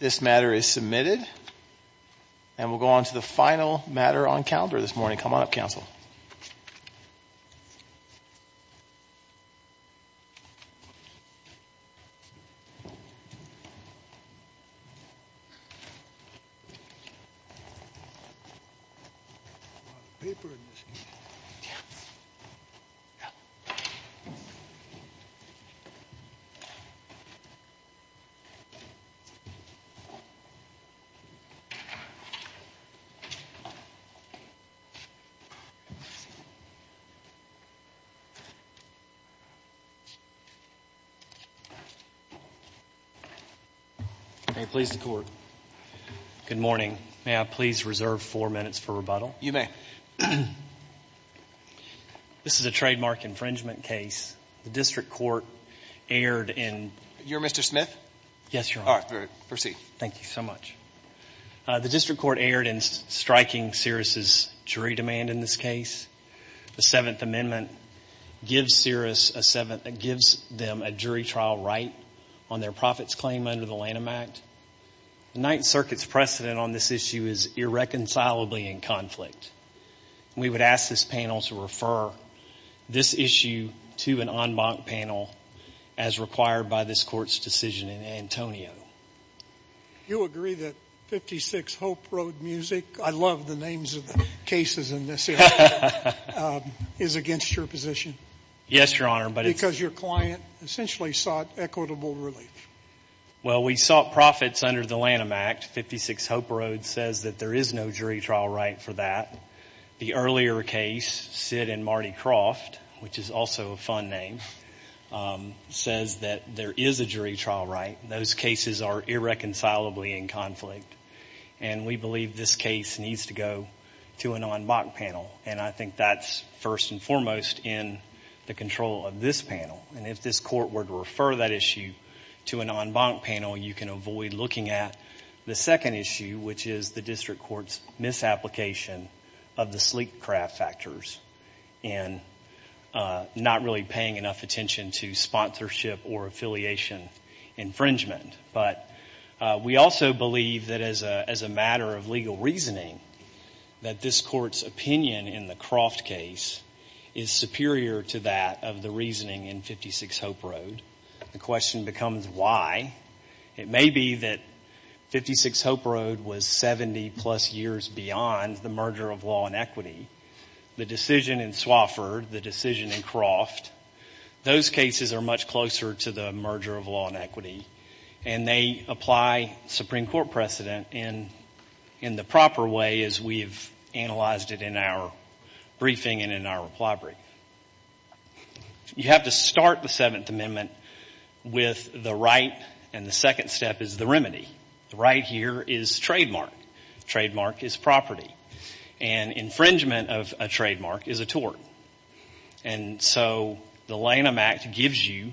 This matter is submitted and we'll go on to the final matter on calendar this morning. Come on up, counsel. May I please reserve four minutes for rebuttal? You may. This is a trademark infringement case. The district court erred in You're Mr. Smith? Yes, Your Honor. Proceed. Thank you so much. The district court erred in striking Cirrus' jury demand in this case. The Seventh Amendment gives them a jury trial right on their profits claim under the Lanham Act. The Ninth Circuit's precedent on this issue is irreconcilably in conflict. We would ask this panel to refer this issue to an en banc panel as required by this court's decision in Antonio. You agree that 56 Hope Road Music, I love the names of the cases in this area, is against your position? Yes, Your Honor, but it's Because your client essentially sought equitable relief. Well, we sought profits under the Lanham Act. 56 Hope Road says that there is no jury trial right for that. The earlier case, Sid and Marty Croft, which is also a fun name, says that there is a jury trial right. Those cases are irreconcilably in conflict. And we believe this case needs to go to an en banc panel. And I think that's first and foremost in the control of this panel. And if this court were to refer that issue to an en banc panel, you can avoid looking at the second issue, which is the district court's misapplication of the sleek craft factors and not really paying enough attention to sponsorship or affiliation infringement. But we also believe that as a matter of legal reasoning, that this court's opinion in the Croft case is superior to that of the reasoning in 56 Hope Road. The question becomes why? It may be that 56 Hope Road was 70 plus years beyond the merger of law and equity. The decision in Swofford, the decision in Croft, those cases are much closer to the merger of law and equity. And they apply Supreme Court precedent in the proper way as we have analyzed it in our briefing and in our reply brief. You have to start the Seventh Amendment with the right and the second step is the remedy. The right here is trademark. Trademark is property. And infringement of a trademark is a tort. And so the Lanham Act gives you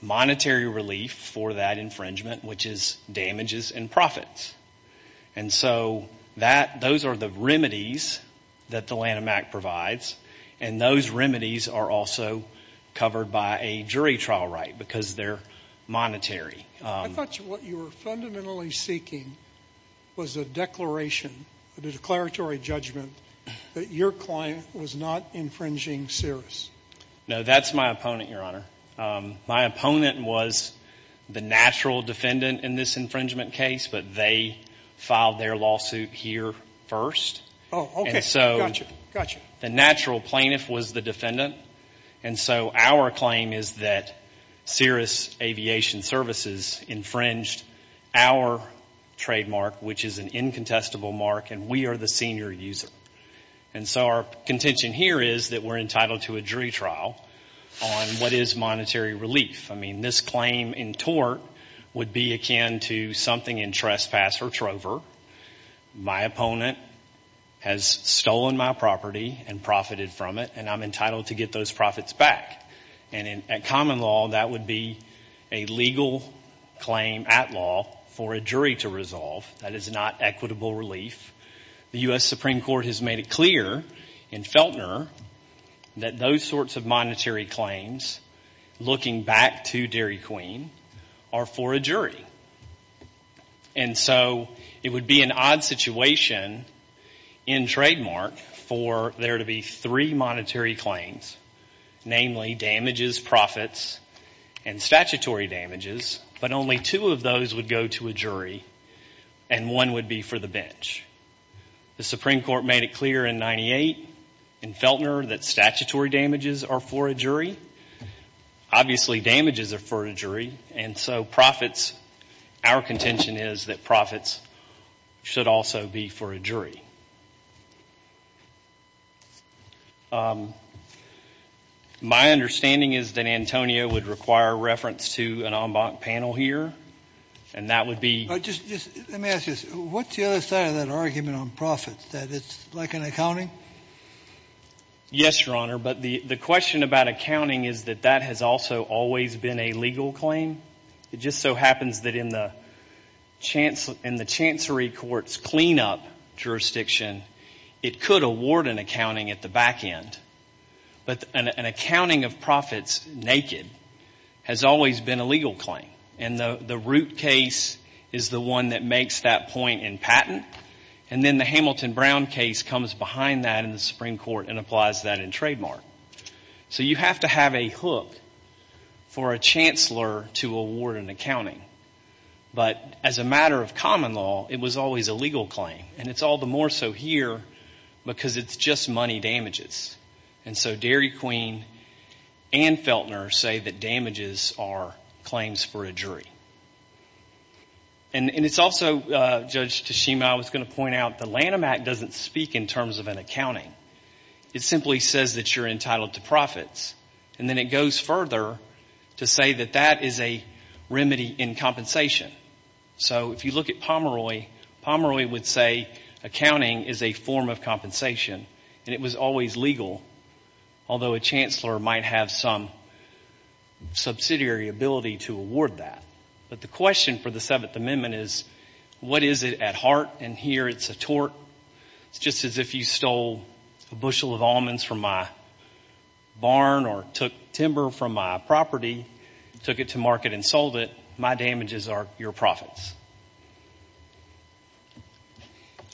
monetary relief for that infringement, which is damages and profits. And so that, those are the remedies that the Lanham Act provides. And those remedies are also covered by a jury trial right because they're monetary. I thought what you were fundamentally seeking was a declaration, a declaratory judgment that your client was not infringing Cirrus. No, that's my opponent, Your Honor. My opponent was the natural defendant in this infringement case, but they filed their lawsuit here first. Oh, okay, gotcha, gotcha. The natural plaintiff was the defendant. And so our claim is that Cirrus Aviation Services infringed our trademark, which is an incontestable mark, and we are the senior user. And so our contention here is that we're entitled to a jury trial on what is monetary relief. I mean, this claim in tort would be akin to something in trespass or trover. My opponent has stolen my property and profited from it, and I'm entitled to get those profits back. And in common law, that would be a legal claim at law for a jury to resolve. That is not equitable relief. The U.S. Supreme Court has made it clear in Feltner that those sorts of monetary claims, looking back to Dairy Queen, are for a jury. And so it would be an odd situation in trademark for there to be three monetary claims, namely damages, profits, and statutory damages, but only two of those would go to a jury, and one would be for the bench. The Supreme Court made it clear in 98 in Feltner that statutory damages are for a jury. Obviously, damages are for a jury. And so profits, our contention is that profits should also be for a jury. My understanding is that Antonio would require reference to an en banc panel here, and that would be Let me ask you this. What's the other side of that argument on profits, that it's like an accounting? Yes, Your Honor. But the question about accounting is that that has also always been a legal claim. It just so happens that in the Chancery Court's cleanup jurisdiction, it could award an accounting at the back end. But an accounting of profits naked has always been a legal claim. And the Root case is the one that makes that point in patent. And then the Hamilton-Brown case comes behind that in the Supreme Court and applies that in trademark. So you have to have a hook for a chancellor to award an accounting. But as a matter of common law, it was always a legal claim. And it's all the more so here because it's just money damages. And so Dairy Queen and Feltner say that damages are claims for a jury. And it's also, Judge Tashima, I was going to point out, the Lanham Act doesn't speak in terms of an accounting. It simply says that you're entitled to profits. And then it goes further to say that that is a remedy in compensation. So if you look at Pomeroy, Pomeroy would say accounting is a form of compensation. And it was always legal, although a chancellor might have some subsidiary ability to award that. But the question for the Seventh Amendment is, what is it at heart? And here it's a tort. It's just as if you stole a bushel of almonds from my barn or took timber from my property, took it to market and sold it. My damages are your profits.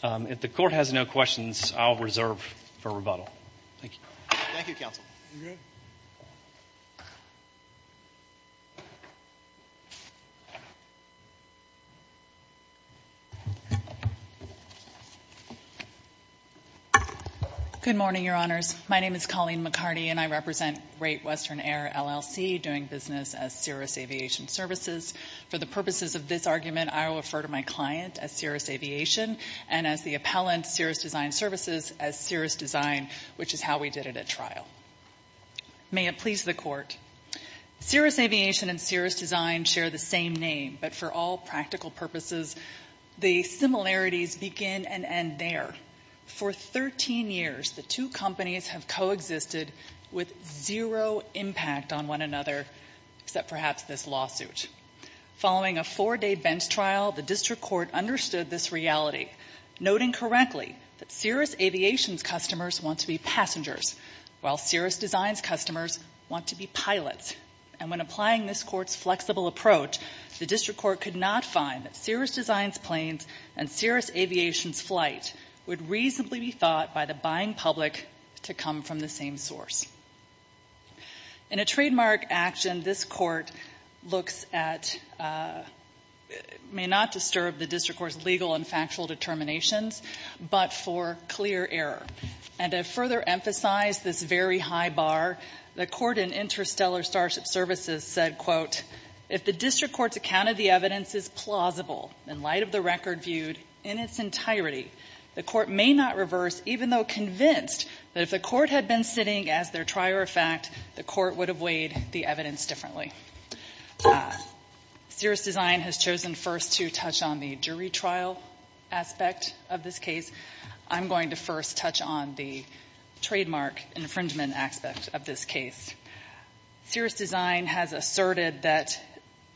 If the court has no questions, I'll reserve for rebuttal. Thank you. Thank you, Counsel. You're good. Good morning, Your Honors. My name is Colleen McCarty, and I represent Rate Western Air, LLC, doing business as Cirrus Aviation Services. For the purposes of this argument, I will refer to my client as Cirrus Aviation, and as the appellant, Cirrus Design Services, as Cirrus Design, which is how we did it at trial. May it please the court. Cirrus Aviation and Cirrus Design share the same name, but for all practical purposes, the similarities begin and end there. For 13 years, the two companies have coexisted with zero impact on one another, except perhaps this lawsuit. Following a four-day bench trial, the district court understood this reality, noting correctly that Cirrus Aviation's customers want to be passengers, while Cirrus Design's customers want to be pilots. And when applying this court's flexible approach, the district court could not find that Cirrus Design's planes and Cirrus Aviation's flight would reasonably be thought by the buying public to come from the same source. In a trademark action, this court looks at, may not disturb the district court's legal and factual determinations, but for clear error. And to further emphasize this very high bar, the court in Interstellar Starship Services said, quote, if the district court's account of the evidence is plausible, in light of the record viewed in its entirety, the court may not reverse, even though convinced that if the court had been sitting as their trier of fact, the court would have weighed the evidence differently. Cirrus Design has chosen first to touch on the jury trial aspect of this case. I'm going to first touch on the trademark infringement aspect of this case. Cirrus Design has asserted that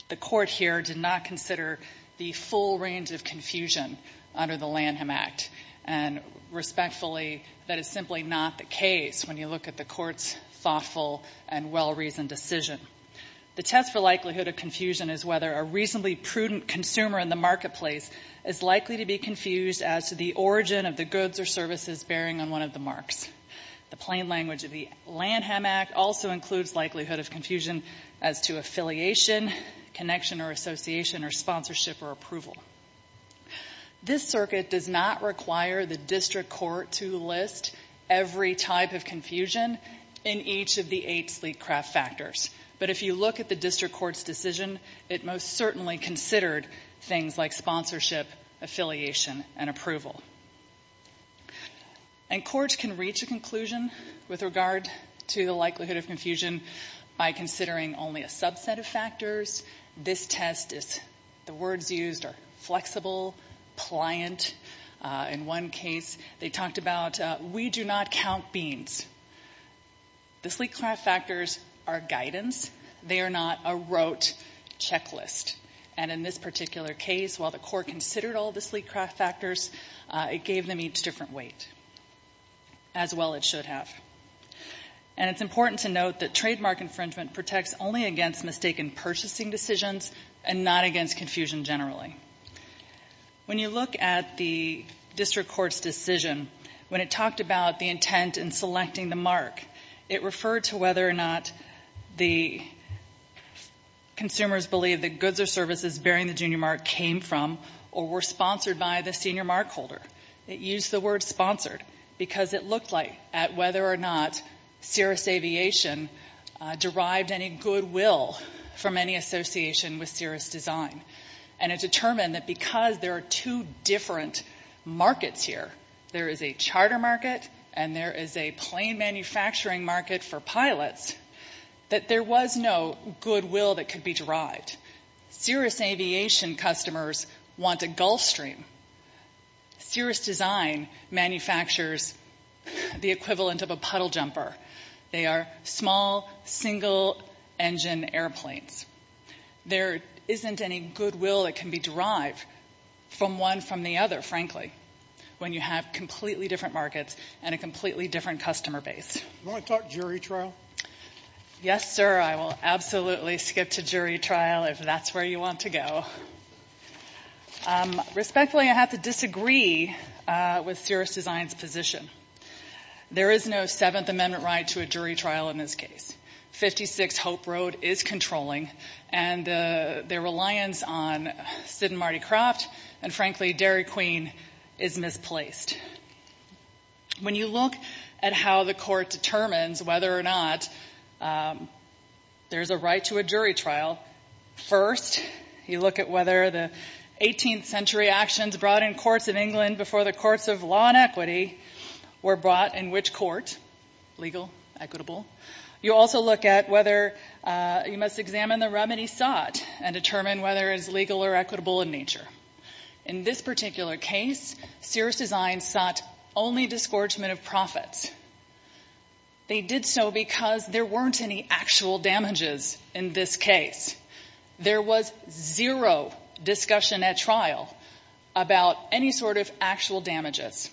the court here did not consider the full range of confusion under the Lanham Act. And respectfully, that is simply not the case when you look at the court's thoughtful and well-reasoned decision. The test for likelihood of confusion is whether a reasonably prudent consumer in the marketplace is likely to be confused as to the origin of the goods or services bearing on one of the marks. The plain language of the Lanham Act also includes likelihood of confusion as to affiliation, connection or association, or sponsorship or approval. This circuit does not require the district court to list every type of confusion in each of the eight sleek craft factors. But if you look at the district court's decision, it most certainly considered things like sponsorship, affiliation, and approval. And courts can reach a conclusion with regard to the likelihood of confusion by considering only a subset of factors. This test is, the words used are flexible, pliant. In one case, they talked about, we do not count beans. The sleek craft factors are guidance. They are not a rote checklist. And in this particular case, while the court considered all the sleek craft factors, it gave them each different weight, as well it should have. And it's important to note that trademark infringement protects only against mistaken purchasing decisions and not against confusion generally. When you look at the district court's decision, when it talked about the intent in selecting the mark, it referred to whether or not the consumers believed that goods or services bearing the junior mark came from or were sponsored by the senior mark holder. It used the word sponsored because it looked like, at whether or not Cirrus Aviation derived any goodwill from any association with Cirrus Design. And it determined that because there are two different markets here, there is a charter market and there is a plane manufacturing market for pilots, that there was no goodwill that could be derived. Cirrus Aviation customers want a Gulfstream. Cirrus Design manufactures the equivalent of a puddle jumper. They are small, single-engine airplanes. There isn't any goodwill that can be derived from one from the other, frankly, when you have completely different markets and a completely different customer base. Do you want to talk jury trial? Yes, sir. I will absolutely skip to jury trial if that's where you want to go. Respectfully, I have to disagree with Cirrus Design's position. There is no Seventh Amendment right to a jury trial in this case. 56 Hope Road is controlling, and their reliance on Sid and Marty Croft and, frankly, Dairy Queen is misplaced. When you look at how the court determines whether or not there is a right to a jury trial, first you look at whether the 18th century actions brought in courts in England before the courts of law and equity were brought in which court, legal, equitable. You also look at whether you must examine the remedy sought and determine whether it is legal or equitable in nature. In this particular case, Cirrus Design sought only disgorgement of profits. They did so because there weren't any actual damages in this case. There was zero discussion at trial about any sort of actual damages.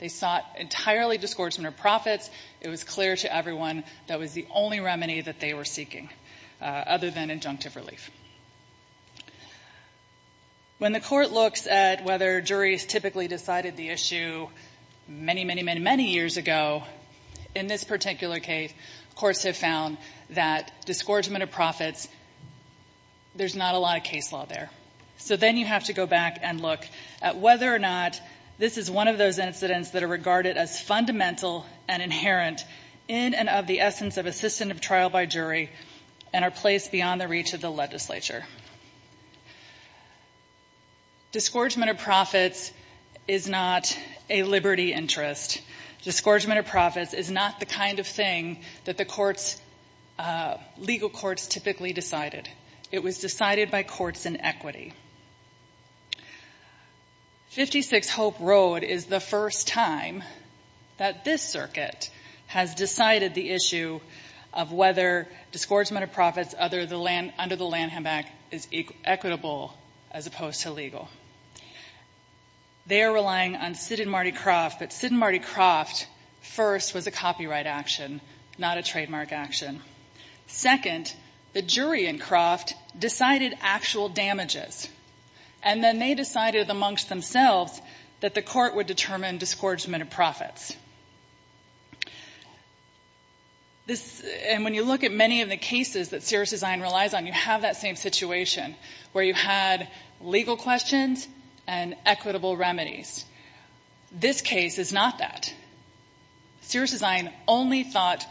They sought entirely disgorgement of profits. It was clear to everyone that was the only remedy that they were seeking other than injunctive relief. When the court looks at whether juries typically decided the issue many, many, many, many years ago, in this particular case, courts have found that disgorgement of profits, there's not a lot of case law there. So then you have to go back and look at whether or not this is one of those incidents that are regarded as fundamental and inherent in and of the essence of assistance of trial by jury and are placed beyond the reach of the legislature. Disgorgement of profits is not a liberty interest. Disgorgement of profits is not the kind of thing that the legal courts typically decided. It was decided by courts in equity. 56 Hope Road is the first time that this circuit has decided the issue of whether disgorgement of profits under the Lanham Act is equitable as opposed to legal. They are relying on Sid and Marty Croft, but Sid and Marty Croft, first, was a copyright action, not a trademark action. Second, the jury in Croft decided actual damages, and then they decided amongst themselves that the court would determine disgorgement of profits. And when you look at many of the cases that Sears Design relies on, you have that same situation where you had legal questions and equitable remedies. This case is not that. Sears Design only sought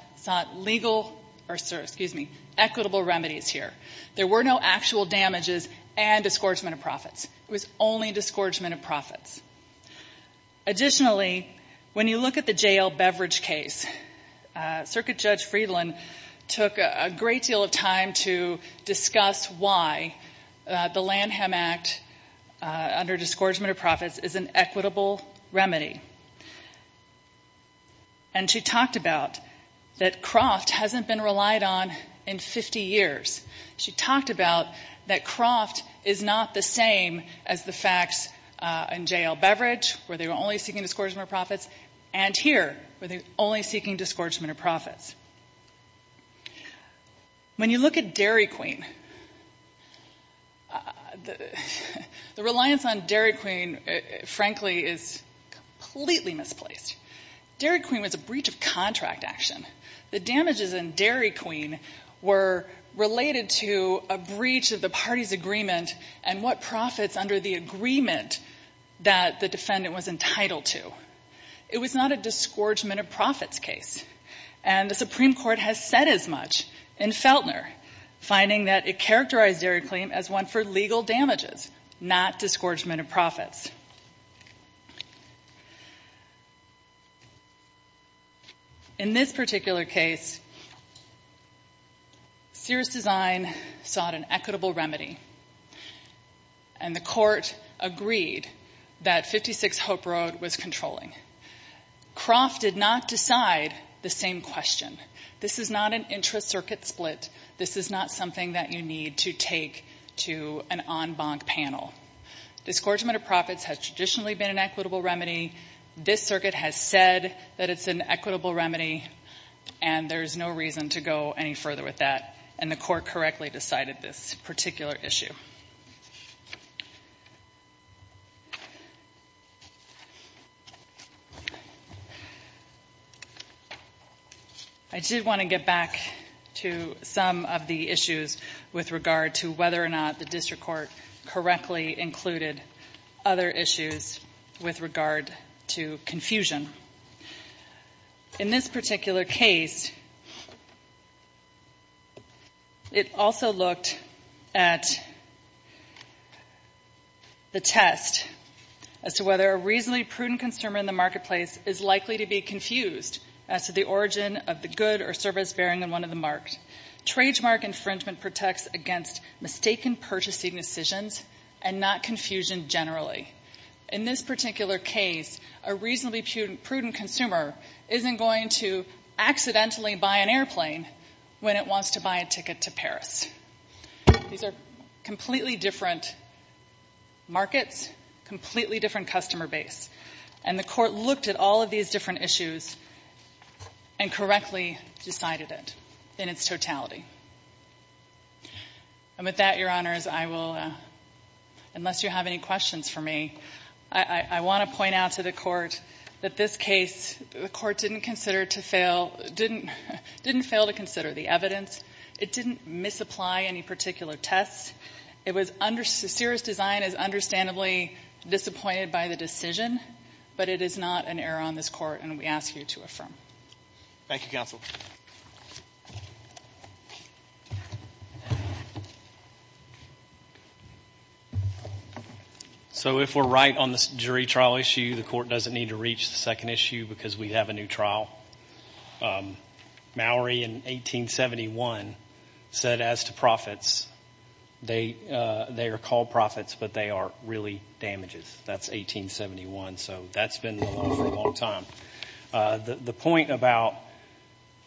legal or, excuse me, equitable remedies here. There were no actual damages and disgorgement of profits. It was only disgorgement of profits. Additionally, when you look at the J.L. Beveridge case, Circuit Judge Friedland took a great deal of time to discuss why the Lanham Act, under disgorgement of profits, is an equitable remedy. And she talked about that Croft hasn't been relied on in 50 years. She talked about that Croft is not the same as the facts in J.L. Beveridge, where they were only seeking disgorgement of profits, and here, where they were only seeking disgorgement of profits. When you look at Dairy Queen, the reliance on Dairy Queen, frankly, is completely misplaced. Dairy Queen was a breach of contract action. The damages in Dairy Queen were related to a breach of the party's agreement and what profits under the agreement that the defendant was entitled to. It was not a disgorgement of profits case. And the Supreme Court has said as much in Feltner, finding that it characterized Dairy Queen as one for legal damages, not disgorgement of profits. In this particular case, serious design sought an equitable remedy, and the court agreed that 56 Hope Road was controlling. Croft did not decide the same question. This is not an intra-circuit split. This is not something that you need to take to an en banc panel. Disgorgement of profits has traditionally been an equitable remedy. This circuit has said that it's an equitable remedy, and there's no reason to go any further with that, and the court correctly decided this particular issue. I did want to get back to some of the issues with regard to whether or not the district court correctly included other issues with regard to confusion. In this particular case, it also looked at the test as to whether a reasonably prudent consumer in the marketplace is likely to be confused as to the origin of the good or service bearing on one of the marks. Trademark infringement protects against mistaken purchasing decisions and not confusion generally. In this particular case, a reasonably prudent consumer isn't going to accidentally buy an airplane when it wants to buy a ticket to Paris. These are completely different markets, completely different customer base, and the court looked at all of these different issues and correctly decided it in its totality. And with that, Your Honors, I will, unless you have any questions for me, I want to point out to the court that this case, the court didn't consider to fail, didn't fail to consider the evidence. It didn't misapply any particular tests. It was under the serious design as understandably disappointed by the decision, but it is not an error on this court, and we ask you to affirm. Thank you, counsel. So if we're right on this jury trial issue, the court doesn't need to reach the second issue because we have a new trial. Mallory, in 1871, said as to profits, they are called profits but they are really damages. That's 1871, so that's been the law for a long time. The point about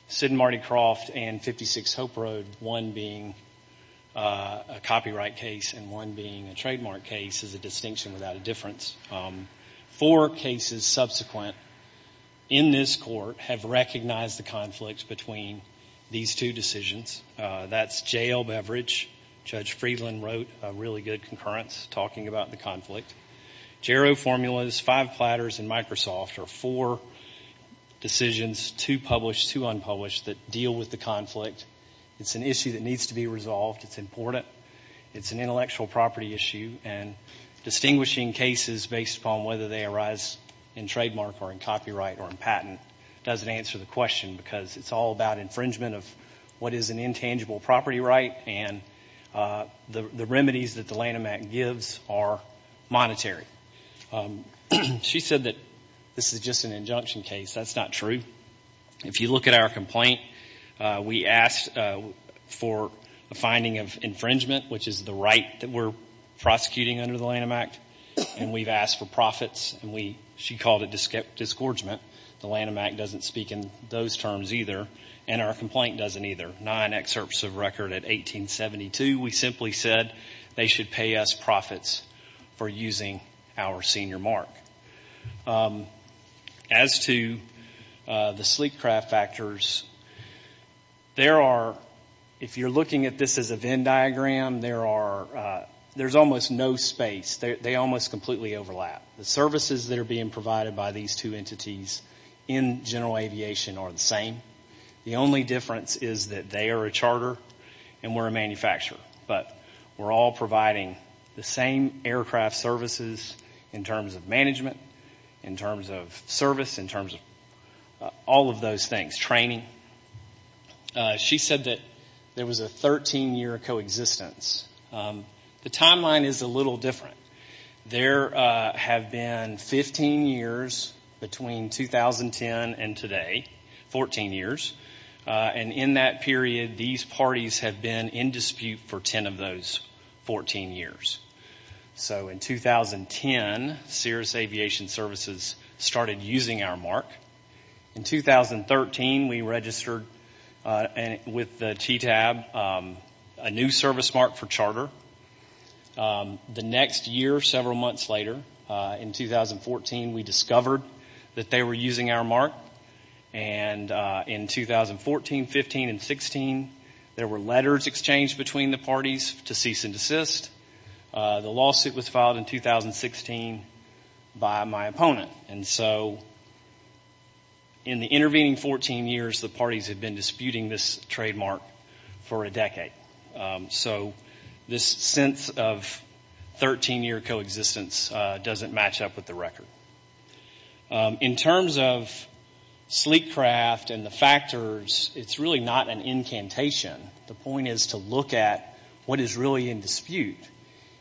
Sid and Marty Croft and 56 Hope Road, one being a copyright case and one being a trademark case, is a distinction without a difference. Four cases subsequent in this court have recognized the conflict between these two decisions. That's jail beverage. Judge Friedland wrote a really good concurrence talking about the conflict. Jarrow formulas, five platters, and Microsoft are four decisions, two published, two unpublished, that deal with the conflict. It's an issue that needs to be resolved. It's important. It's an intellectual property issue. Distinguishing cases based upon whether they arise in trademark or in copyright or in patent doesn't answer the question because it's all about infringement of what is an intangible property right and the remedies that the Lanham Act gives are monetary. She said that this is just an injunction case. That's not true. If you look at our complaint, we asked for a finding of infringement, which is the right that we're prosecuting under the Lanham Act, and we've asked for profits, and she called it disgorgement. The Lanham Act doesn't speak in those terms either, and our complaint doesn't either. Nine excerpts of record at 1872, we simply said they should pay us profits for using our senior mark. As to the sleek craft factors, if you're looking at this as a Venn diagram, there's almost no space. They almost completely overlap. The services that are being provided by these two entities in general aviation are the same. The only difference is that they are a charter and we're a manufacturer, but we're all providing the same aircraft services in terms of management, in terms of service, in terms of all of those things, training. She said that there was a 13-year coexistence. The timeline is a little different. There have been 15 years between 2010 and today, 14 years, and in that period, these parties have been in dispute for 10 of those 14 years. So in 2010, Cirrus Aviation Services started using our mark. In 2013, we registered with the TTAB a new service mark for charter. The next year, several months later, in 2014, we discovered that they were using our mark, and in 2014, 15, and 16, there were letters exchanged between the parties to cease and desist. The lawsuit was filed in 2016 by my opponent, and so in the intervening 14 years, the parties have been disputing this trademark for a decade. So this sense of 13-year coexistence doesn't match up with the record. In terms of sleek craft and the factors, it's really not an incantation. The point is to look at what is really in dispute,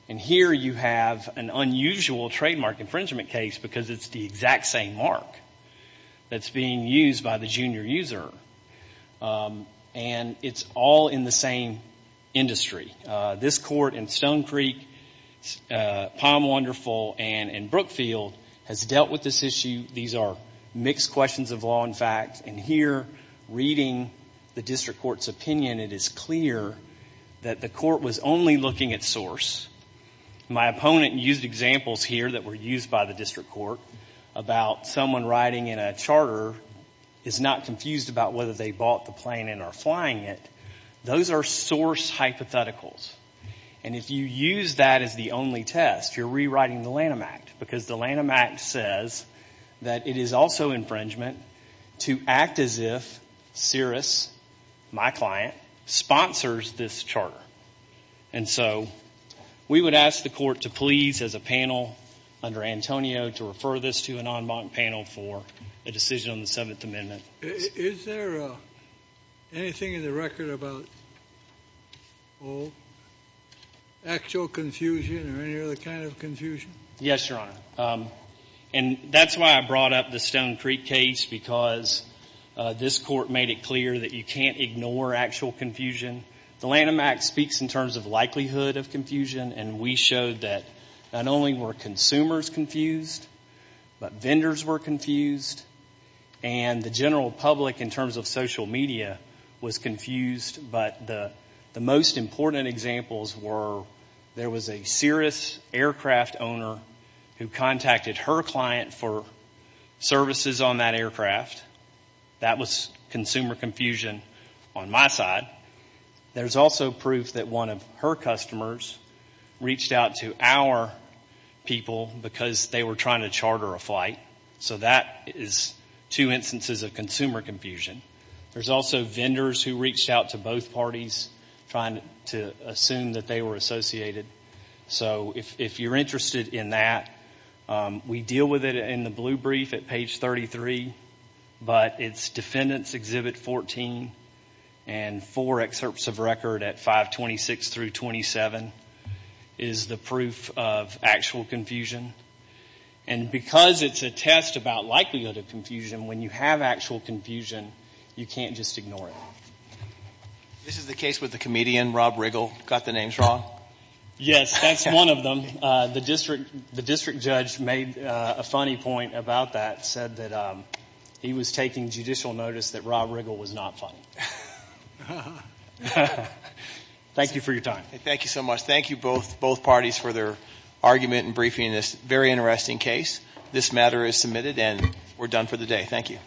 and here you have an unusual trademark infringement case because it's the exact same mark that's being used by the junior user, and it's all in the same industry. This court in Stone Creek, Palm Wonderful, and in Brookfield has dealt with this issue. These are mixed questions of law and fact, and here, reading the district court's opinion, it is clear that the court was only looking at source. My opponent used examples here that were used by the district court about someone riding in a charter, is not confused about whether they bought the plane and are flying it. Those are source hypotheticals, and if you use that as the only test, you're rewriting the Lanham Act because the Lanham Act says that it is also infringement to act as if Cirrus, my client, sponsors this charter. And so we would ask the court to please, as a panel under Antonio, to refer this to an en banc panel for a decision on the Seventh Amendment. Is there anything in the record about actual confusion or any other kind of confusion? Yes, Your Honor, and that's why I brought up the Stone Creek case because this court made it clear that you can't ignore actual confusion. The Lanham Act speaks in terms of likelihood of confusion, and we showed that not only were consumers confused, but vendors were confused, and the general public in terms of social media was confused, but the most important examples were there was a Cirrus aircraft owner who contacted her client for services on that aircraft. That was consumer confusion on my side. There's also proof that one of her customers reached out to our people because they were trying to charter a flight. So that is two instances of consumer confusion. There's also vendors who reached out to both parties trying to assume that they were associated. So if you're interested in that, we deal with it in the blue brief at page 33, but it's Defendant's Exhibit 14 and four excerpts of record at 526 through 27 is the proof of actual confusion, and because it's a test about likelihood of confusion, when you have actual confusion, you can't just ignore it. This is the case with the comedian Rob Riggle. Got the names wrong? Yes, that's one of them. The district judge made a funny point about that, said that he was taking judicial notice that Rob Riggle was not funny. Thank you for your time. Thank you so much. Thank you both parties for their argument and briefing in this very interesting case. This matter is submitted, and we're done for the day. Thank you.